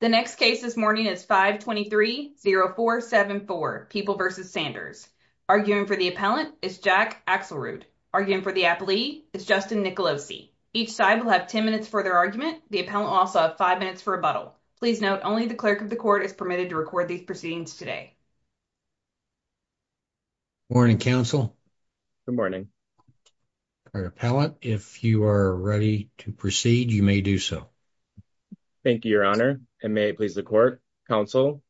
The next case this morning is 523-0474, People v. Sanders. Arguing for the appellant is Jack Axelrude. Arguing for the appellee is Justin Nicolosi. Each side will have 10 minutes for their argument. The appellant will also have 5 minutes for rebuttal. Please note, only the clerk of the court is permitted to record these proceedings today. Morning, counsel. Good morning. Appellant, if you are ready to proceed, you may do so. Thank you, your honor. And may it please the court, counsel.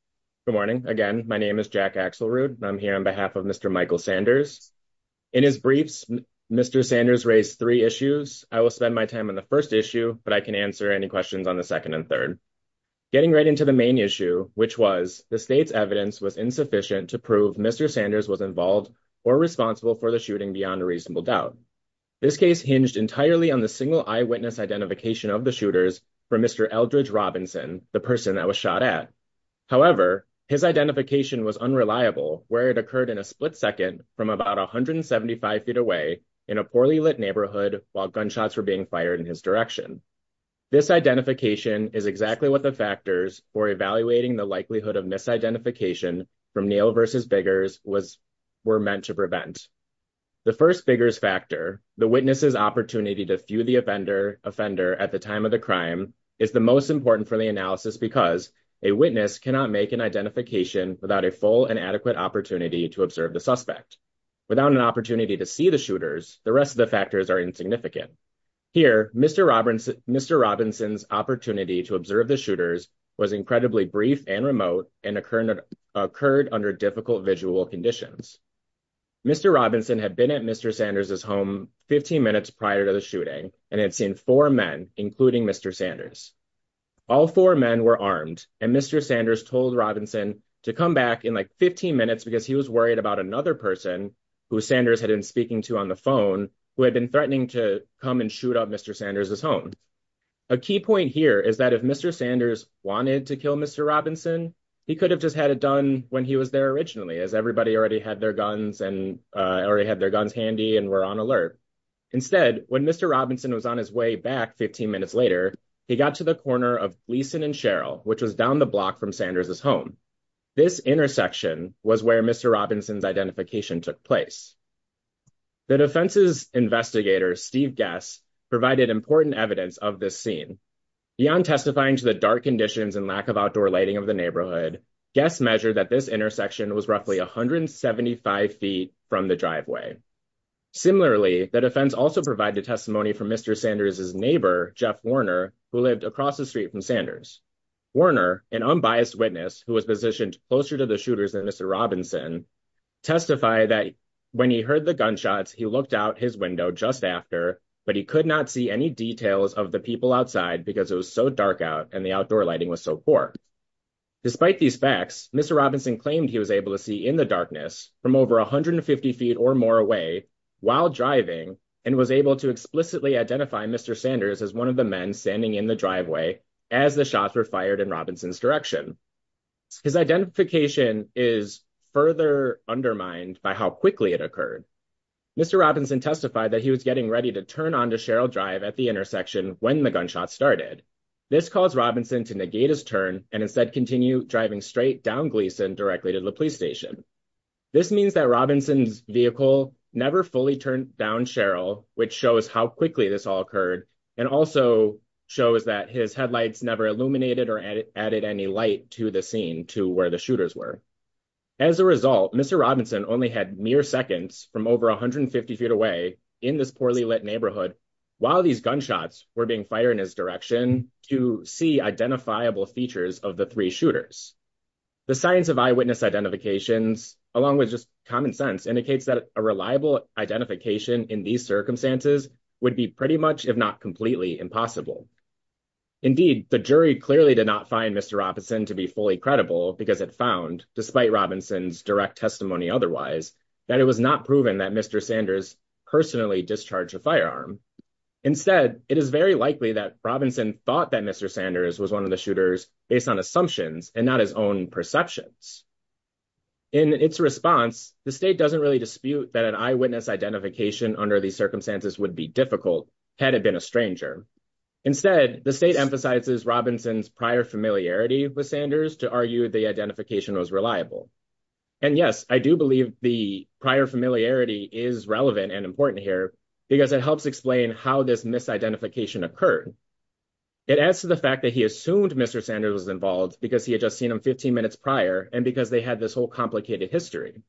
Good morning. Again, my name is Jack Axelrude, and I'm here on behalf of Mr. Michael Sanders. In his briefs, Mr. Sanders raised three issues. I will spend my time on the first issue, but I can answer any questions on the second and third. Getting right into the main issue, which was, the state's evidence was insufficient to prove Mr. Sanders was involved or responsible for the shooting beyond a reasonable doubt. This case hinged entirely on the single eyewitness identification of the shooters from Mr. Eldridge Robinson, the person that was shot at. However, his identification was unreliable, where it occurred in a split second from about 175 feet away in a poorly lit neighborhood while gunshots were being fired in his direction. This identification is exactly what the factors for evaluating the likelihood of misidentification from Neil v. Biggers were meant to prevent. The first Biggers factor, the witness's opportunity to view the offender at the time of the crime, is the most important for the analysis because a witness cannot make an identification without a full and adequate opportunity to observe the suspect. Without an opportunity to see the shooters, the rest of the factors are insignificant. Here, Mr. Robinson's opportunity to observe the shooters was incredibly brief and remote and occurred under difficult visual conditions. Mr. Robinson had been at Mr. Sanders' home 15 minutes prior to the shooting and had seen four men, including Mr. Sanders. All four men were armed and Mr. Sanders told Robinson to come back in like 15 minutes because he was worried about another person who Sanders had been speaking to on the phone who had been threatening to come and shoot up Mr. Sanders' home. A key point here is that if Mr. Sanders wanted to kill Mr. Robinson, he could have just had it done when he was there originally as everybody already had their guns and already had their guns handy and were on alert. Instead, when Mr. Robinson was on his way back 15 minutes later, he got to the corner of Gleason and Sherrill, which was down the block from Sanders' home. This intersection was where Mr. Robinson's identification took place. The defense's investigator, Steve Gess, provided important evidence of this scene. Beyond testifying to the dark conditions and lack of outdoor lighting of the neighborhood, Gess measured that this intersection was roughly 175 feet from the driveway. Similarly, the defense also provided testimony from Mr. Sanders' neighbor, Jeff Warner, who lived across the street from Sanders. Warner, an unbiased witness who was positioned closer to the shooters than Mr. Robinson, testified that when he heard the gunshots, he looked out his window just after, but he could not see any details of the people outside because it was so dark out and the outdoor lighting was so poor. Despite these facts, Mr. Robinson claimed he was able to see in the darkness from over 150 feet or more away while driving and was able to explicitly identify Mr. Sanders as one of the men standing in the driveway as the shots were fired in Robinson's direction. His identification is further undermined by how quickly it occurred. Mr. Robinson testified that he was getting ready to turn onto Sherrill Drive at the intersection when the gunshots started. This caused Robinson to negate his turn and instead continue driving straight down Gleason directly to the police station. This means that Robinson's vehicle never fully turned down Sherrill, which shows how quickly this all occurred, and also shows that his headlights never illuminated or added any light to the scene to where the shooters were. As a result, Mr. Robinson only had mere seconds from over 150 feet away in this poorly lit neighborhood while these gunshots were being fired in his direction to see identifiable features of the three shooters. The science of eyewitness identifications, along with just common sense, indicates that a reliable identification in these circumstances would be pretty much, if not completely, impossible. Indeed, the jury clearly did not find Mr. Robinson to be fully credible because it found, despite Robinson's direct testimony otherwise, that it was not proven that Mr. Sanders personally discharged a firearm. Instead, it is very likely that Robinson thought that Mr. Sanders was one of the shooters based on assumptions and not his own perceptions. In its response, the state doesn't really dispute that an eyewitness identification under these circumstances would be difficult had it been a stranger. Instead, the state emphasizes Robinson's prior familiarity with Sanders to argue the identification was reliable. And yes, I do believe the prior familiarity is relevant and important here because it helps explain how this misidentification occurred. It adds to the fact that he assumed Mr. Sanders was involved because he had just seen him 15 minutes prior and because they had this whole complicated history.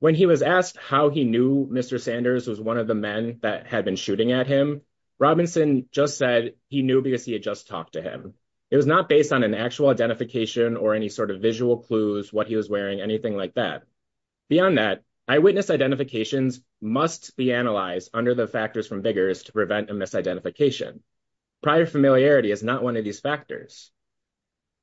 When he was asked how he knew Mr. Sanders was one of the men that had been shooting at him, Robinson just said he knew because he had just talked to him. It was not based on an actual identification or any sort of visual clues, what he was wearing, anything like that. Beyond that, eyewitness identifications must be analyzed under the factors from VIGARS to prevent a misidentification. Prior familiarity is not one of these factors.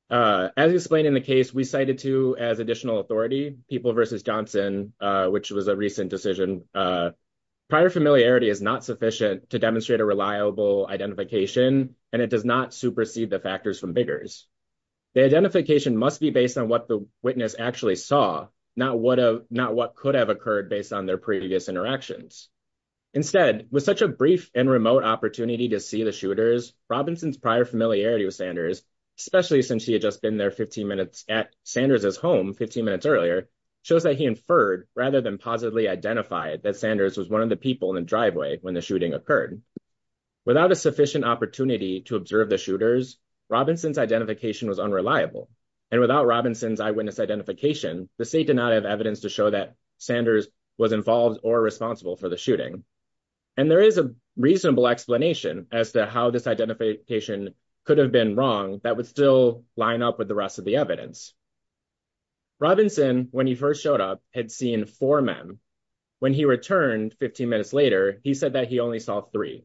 As explained in the case we cited to as additional authority, People v. Johnson, which was a recent decision, prior familiarity is not sufficient to demonstrate a reliable identification and it does not supersede the factors from VIGARS. The identification must be based on what the witness actually saw, not what could have occurred based on their previous interactions. Instead, with such a brief and remote opportunity to see the shooters, Robinson's prior familiarity with Sanders, especially since he had just been there 15 minutes at Sanders' home 15 minutes earlier, shows that he inferred rather than positively identified that Sanders was one of the people in the driveway when the shooting occurred. Without a sufficient opportunity to observe the shooters, Robinson's identification was unreliable. And without Robinson's eyewitness identification, the state did not have evidence to show that Sanders was involved or responsible for the shooting. And there is a reasonable explanation as to how this identification could have been wrong that would still line up with the rest of the evidence. Robinson, when he first showed up, had seen four men. When he returned 15 minutes later, he said that he only saw three.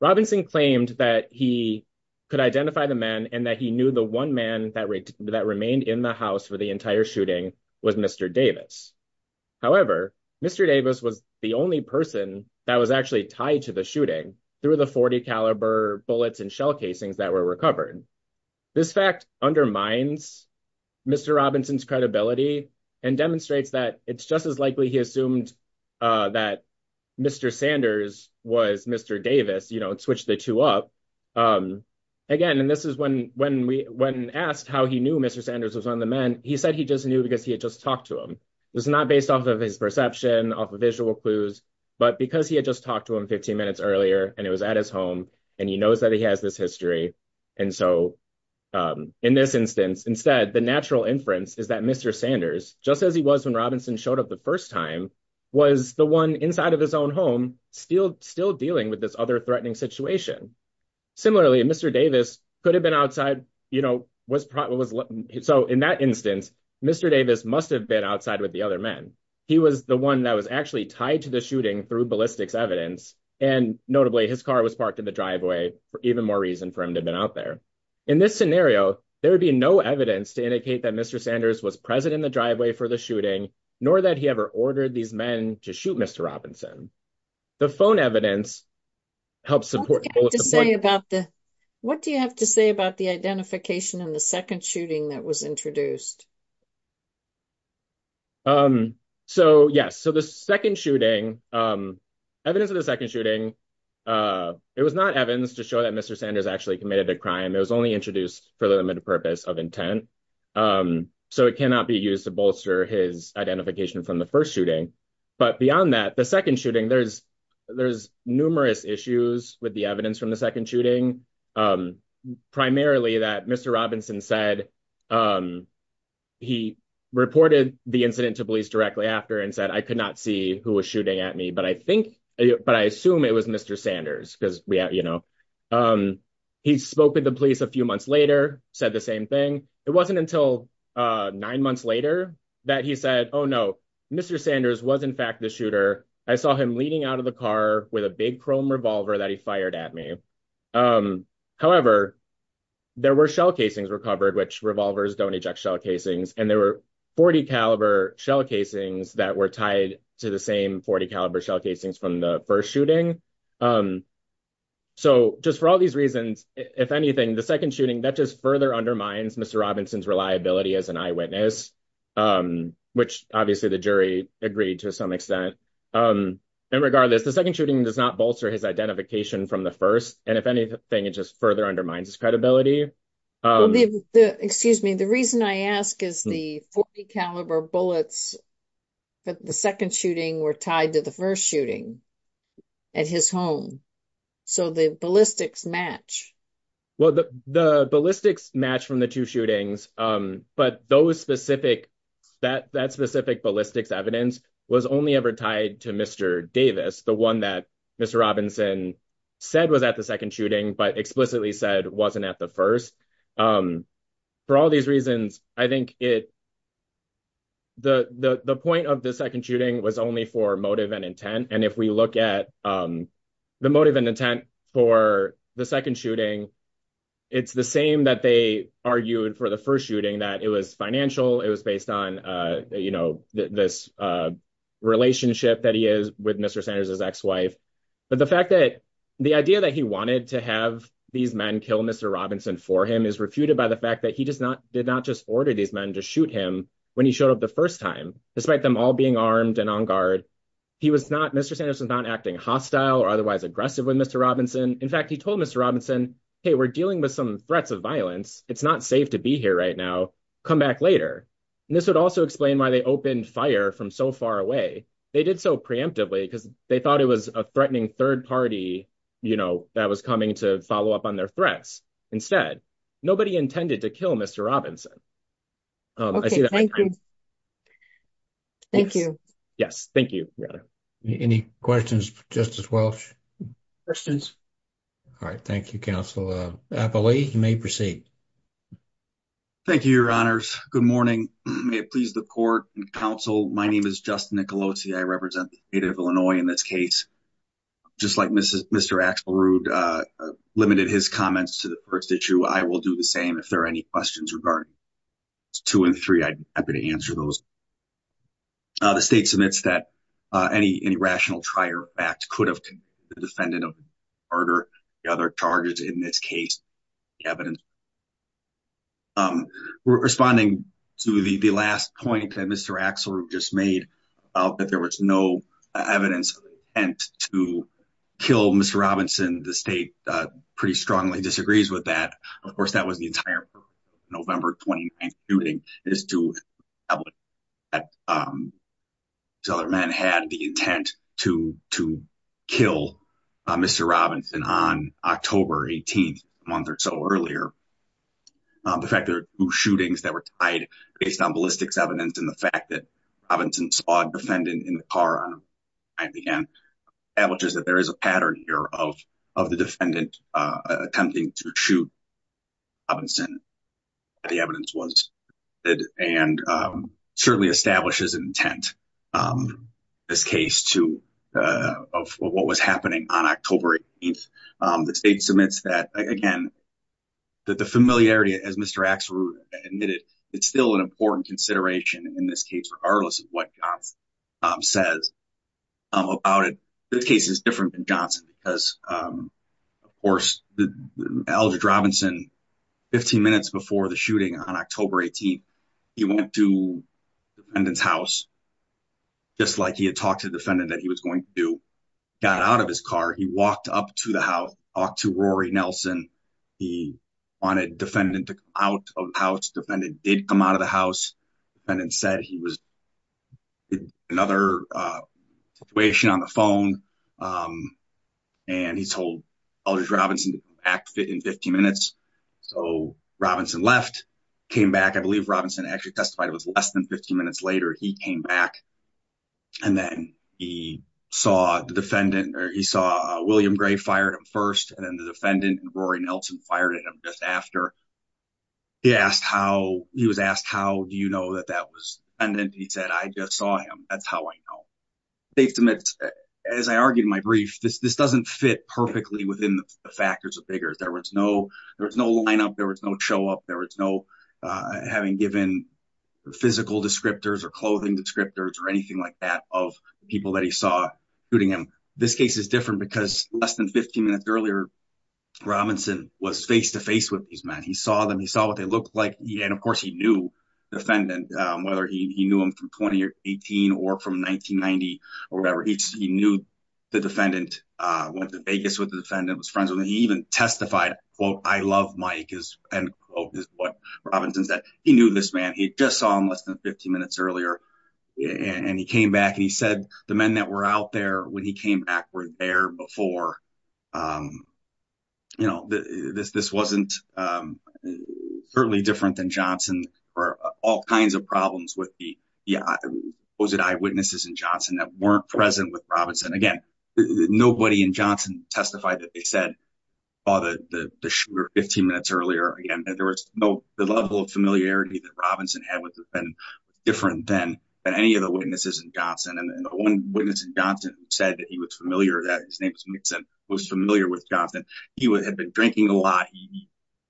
Robinson claimed that he could identify the men and that he knew the one man that remained in the house for the entire shooting was Mr. Davis. However, Mr. Davis was the only person that was actually tied to the shooting through the .40 caliber bullets and shell casings that were recovered. This fact undermines Mr. Robinson's credibility and demonstrates that it's just as likely he assumed that Mr. Sanders was Mr. Davis and switched the two up. Again, and this is when asked how he knew Mr. Sanders was one of the men, he said he just knew because he had just talked to him. This is not based off of his perception, off of visual clues, but because he had just talked to him 15 minutes earlier and he was at his home and he knows that he has this history. And so in this instance, instead, the natural inference is that Mr. Sanders, just as he was when Robinson showed up the first time, was the one inside of his own home still still dealing with this other threatening situation. Similarly, Mr. Davis could have been outside, you know, was probably was. So in that instance, Mr. Davis must have been outside with the other men. He was the one that was actually tied to the shooting through ballistics evidence. And notably, his car was parked in the driveway for even more reason for him to have been out there. In this scenario, there would be no evidence to indicate that Mr. Sanders was present in the driveway for the shooting, nor that he ever ordered these men to shoot Mr. Robinson. The phone evidence helps support. What do you have to say about the identification and the second shooting that was introduced? So, yes, so the second shooting, evidence of the second shooting, it was not evidence to show that Mr. Sanders actually committed a crime. It was only introduced for the limited purpose of intent. So it cannot be used to bolster his identification from the first shooting. But beyond that, the second shooting, there's there's numerous issues with the evidence from the second shooting, primarily that Mr. Robinson said he reported the incident to police directly after and said, I could not see who was shooting at me. But I think but I assume it was Mr. Sanders because, you know, he spoke with the police a few months later, said the same thing. It wasn't until nine months later that he said, oh, no, Mr. Sanders was, in fact, the shooter. I saw him leaning out of the car with a big chrome revolver that he fired at me. However, there were shell casings recovered, which revolvers don't eject shell casings. And there were 40 caliber shell casings that were tied to the same 40 caliber shell casings from the first shooting. So just for all these reasons, if anything, the second shooting that just further undermines Mr. Robinson's reliability as an eyewitness, which obviously the jury agreed to some extent. And regardless, the second shooting does not bolster his identification from the first. And if anything, it just further undermines his credibility. Excuse me. The reason I ask is the 40 caliber bullets, the second shooting were tied to the first shooting at his home. So the ballistics match. Well, the ballistics match from the two shootings. But those specific that that specific ballistics evidence was only ever tied to Mr. Davis, the one that Mr. Robinson said was at the second shooting, but explicitly said wasn't at the first. For all these reasons, I think it. The point of the second shooting was only for motive and intent. And if we look at the motive and intent for the second shooting, it's the same that they argued for the first shooting that it was financial. It was based on this relationship that he is with Mr. Sanders, his ex-wife. But the fact that the idea that he wanted to have these men kill Mr. Robinson for him is refuted by the fact that he does not did not just order these men to shoot him when he showed up the first time, despite them all being armed and on guard. He was not Mr. Sanders was not acting hostile or otherwise aggressive with Mr. Robinson. In fact, he told Mr. Robinson, hey, we're dealing with some threats of violence. It's not safe to be here right now. Come back later. And this would also explain why they opened fire from so far away. They did so preemptively because they thought it was a threatening third party, you know, that was coming to follow up on their threats. Instead, nobody intended to kill Mr. Robinson. Thank you. Thank you. Yes. Thank you. Any questions, Justice Welch? Questions. All right. Thank you, counsel. I believe you may proceed. Thank you, your honors. Good morning. May it please the court and counsel. My name is Justin Nicolosi. I represent the state of Illinois in this case. Just like Mr. Axelrude limited his comments to the first issue. I will do the same. If there are any questions regarding two and three, I'd be happy to answer those. The state submits that any rational trial act could have convicted the defendant of murder. The other charges in this case. The evidence. Responding to the last point that Mr. Axelrude just made, that there was no evidence to kill Mr. Robinson. The state pretty strongly disagrees with that. Of course, that was the entire November 29th shooting. It is to establish that these other men had the intent to kill Mr. Robinson on October 18th, a month or so earlier. The fact that there were two shootings that were tied based on ballistics evidence and the fact that Robinson saw a defendant in the car, establishes that there is a pattern here of the defendant attempting to shoot Mr. The evidence was and certainly establishes an intent. This case of what was happening on October 18th. The state submits that again, that the familiarity as Mr. Axelrude admitted. It's still an important consideration in this case, regardless of what Johnson says about it. This case is different than Johnson. Because, of course, Eldridge Robinson, 15 minutes before the shooting on October 18th, he went to the defendant's house. Just like he had talked to the defendant that he was going to do. Got out of his car. He walked up to the house. Talked to Rory Nelson. He wanted defendant to come out of the house. Defendant did come out of the house. Defendant said he was in another situation on the phone. And he told Eldridge Robinson to act in 15 minutes. So Robinson left. Came back. I believe Robinson actually testified it was less than 15 minutes later. He came back. And then he saw the defendant. He saw William Gray fired him first. And then the defendant and Rory Nelson fired at him just after. He was asked how do you know that that was the defendant. He said I just saw him. That's how I know. State submits, as I argued in my brief, this doesn't fit perfectly within the factors of Biggers. There was no lineup. There was no show up. There was no having given physical descriptors or clothing descriptors or anything like that of people that he saw shooting him. This case is different because less than 15 minutes earlier, Robinson was face-to-face with these men. He saw them. He saw what they looked like. And, of course, he knew the defendant, whether he knew him from 2018 or from 1990 or whatever. He knew the defendant, went to Vegas with the defendant, was friends with him. He even testified, quote, I love Mike, is what Robinson said. He knew this man. He just saw him less than 15 minutes earlier. And he came back and he said the men that were out there when he came back were there before. You know, this wasn't certainly different than Johnson or all kinds of problems with the eyewitnesses in Johnson that weren't present with Robinson. Again, nobody in Johnson testified that they said they saw the shooter 15 minutes earlier. Again, there was no – the level of familiarity that Robinson had with the defendant was different than any of the witnesses in Johnson. And the one witness in Johnson who said that he was familiar, that his name was Nixon, was familiar with Johnson. He had been drinking a lot.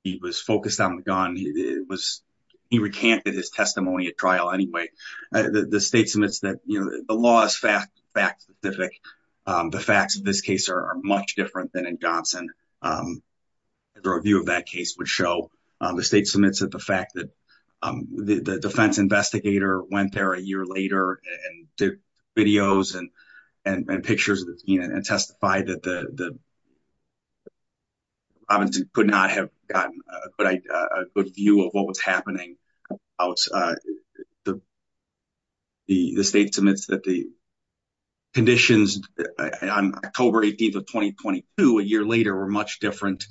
He was focused on the gun. He recanted his testimony at trial anyway. The state submits that, you know, the law is fact specific. The facts of this case are much different than in Johnson. The review of that case would show. The state submits that the fact that the defense investigator went there a year later and took videos and pictures and testified that Robinson could not have gotten a good view of what was happening. The state submits that the conditions on October 18th of 2022, a year later, were much different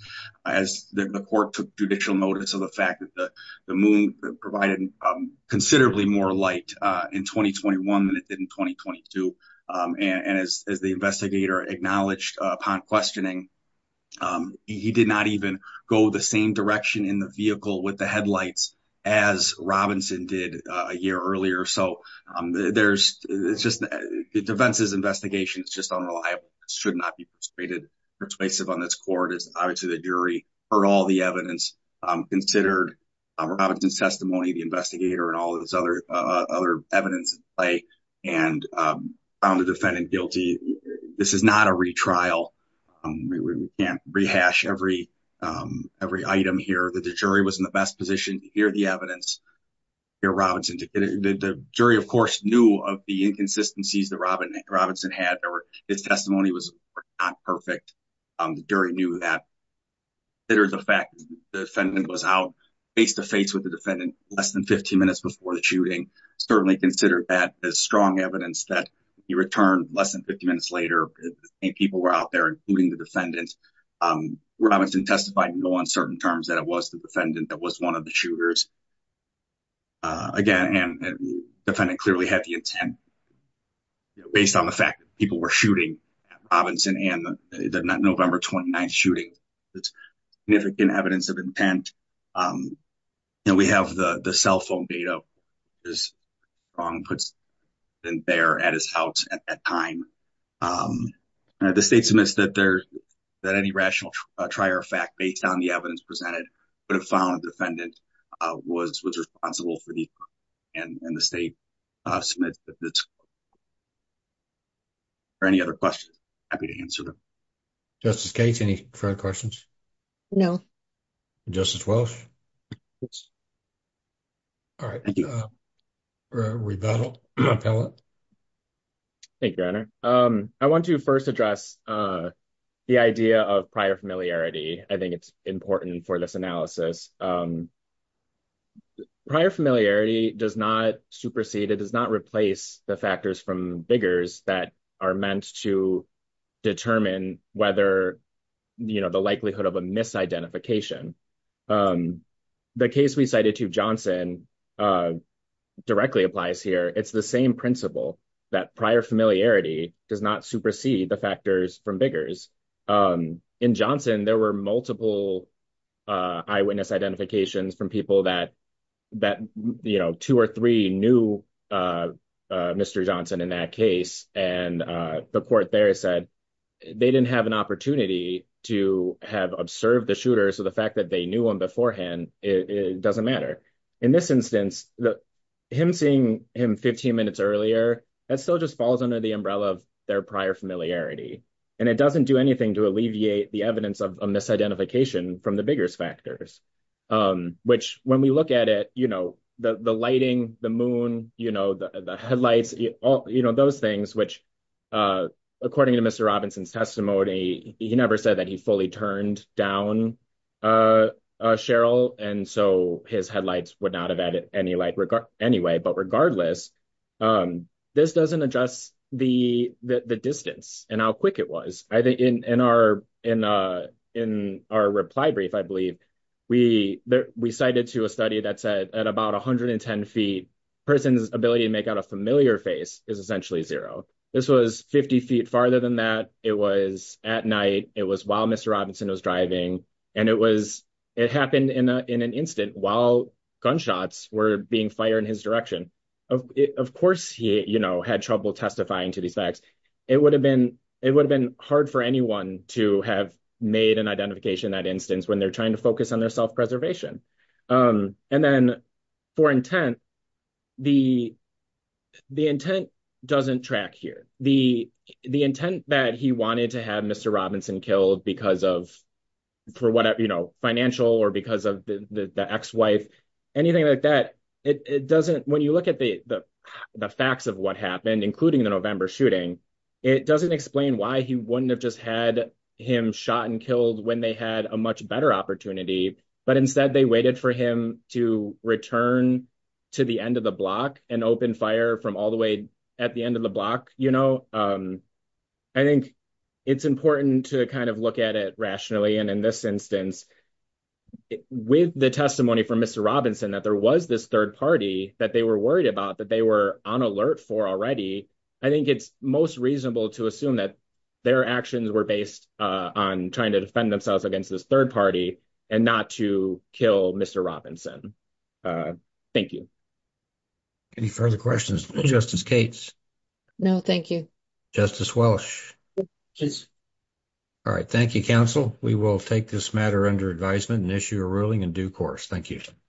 as the court took judicial notice of the fact that the moon provided considerably more light in 2021 than it did in 2022. And as the investigator acknowledged upon questioning, he did not even go the same direction in the vehicle with the headlights as Robinson did a year earlier. The defense's investigation is just unreliable. It should not be persuaded. Persuasive on this court is obviously the jury. For all the evidence considered, Robinson's testimony, the investigator, and all this other evidence in play, and found the defendant guilty. This is not a retrial. We can't rehash every item here. The jury was in the best position to hear the evidence. The jury, of course, knew of the inconsistencies that Robinson had. His testimony was not perfect. The jury knew that. Consider the fact that the defendant was out face-to-face with the defendant less than 15 minutes before the shooting. Certainly consider that as strong evidence that he returned less than 15 minutes later and people were out there, including the defendant. Robinson testified in no uncertain terms that it was the defendant that was one of the shooters. Again, the defendant clearly had the intent, based on the fact that people were shooting at Robinson and the November 29th shooting. It's significant evidence of intent. And we have the cell phone data. The state submits that any rational try or effect based on the evidence presented would have found the defendant was responsible for the shooting. And the state submits that. Are there any other questions? I'm happy to answer them. Justice Gates, any further questions? No. Justice Walsh? All right. Rebuttal. Thank you, Your Honor. I want to first address the idea of prior familiarity. I think it's important for this analysis. Prior familiarity does not supersede, it does not replace the factors from biggers that are meant to determine whether, you know, the likelihood of a misidentification. The case we cited to Johnson directly applies here. It's the same principle that prior familiarity does not supersede the factors from biggers. In Johnson, there were multiple eyewitness identifications from people that, you know, two or three knew Mr. Johnson in that case, and the court there said they didn't have an opportunity to have observed the shooter. So the fact that they knew him beforehand, it doesn't matter. In this instance, him seeing him 15 minutes earlier, that still just falls under the umbrella of their prior familiarity. And it doesn't do anything to alleviate the evidence of a misidentification from the biggers factors. Which, when we look at it, you know, the lighting, the moon, you know, the headlights, you know, those things, which, according to Mr. Robinson's testimony, he never said that he fully turned down Cheryl, and so his headlights would not have added any light anyway. But regardless, this doesn't address the distance and how quick it was. In our reply brief, I believe, we cited to a study that said at about 110 feet, a person's ability to make out a familiar face is essentially zero. This was 50 feet farther than that. It was at night. It was while Mr. Robinson was driving. And it happened in an instant while gunshots were being fired in his direction. Of course he, you know, had trouble testifying to these facts. It would have been hard for anyone to have made an identification in that instance when they're trying to focus on their self-preservation. And then for intent, the intent doesn't track here. The intent that he wanted to have Mr. Robinson killed because of, you know, financial or because of the ex-wife, anything like that, it doesn't. When you look at the facts of what happened, including the November shooting, it doesn't explain why he wouldn't have just had him shot and killed when they had a much better opportunity. But instead, they waited for him to return to the end of the block and open fire from all the way at the end of the block. You know, I think it's important to kind of look at it rationally. And in this instance, with the testimony from Mr. Robinson that there was this third party that they were worried about, that they were on alert for already, I think it's most reasonable to assume that their actions were based on trying to defend themselves against this third party and not to kill Mr. Robinson. Thank you. Any further questions? Justice Cates? No, thank you. Justice Welsh? Yes. All right. Thank you, counsel. We will take this matter under advisement and issue a ruling in due course. Thank you.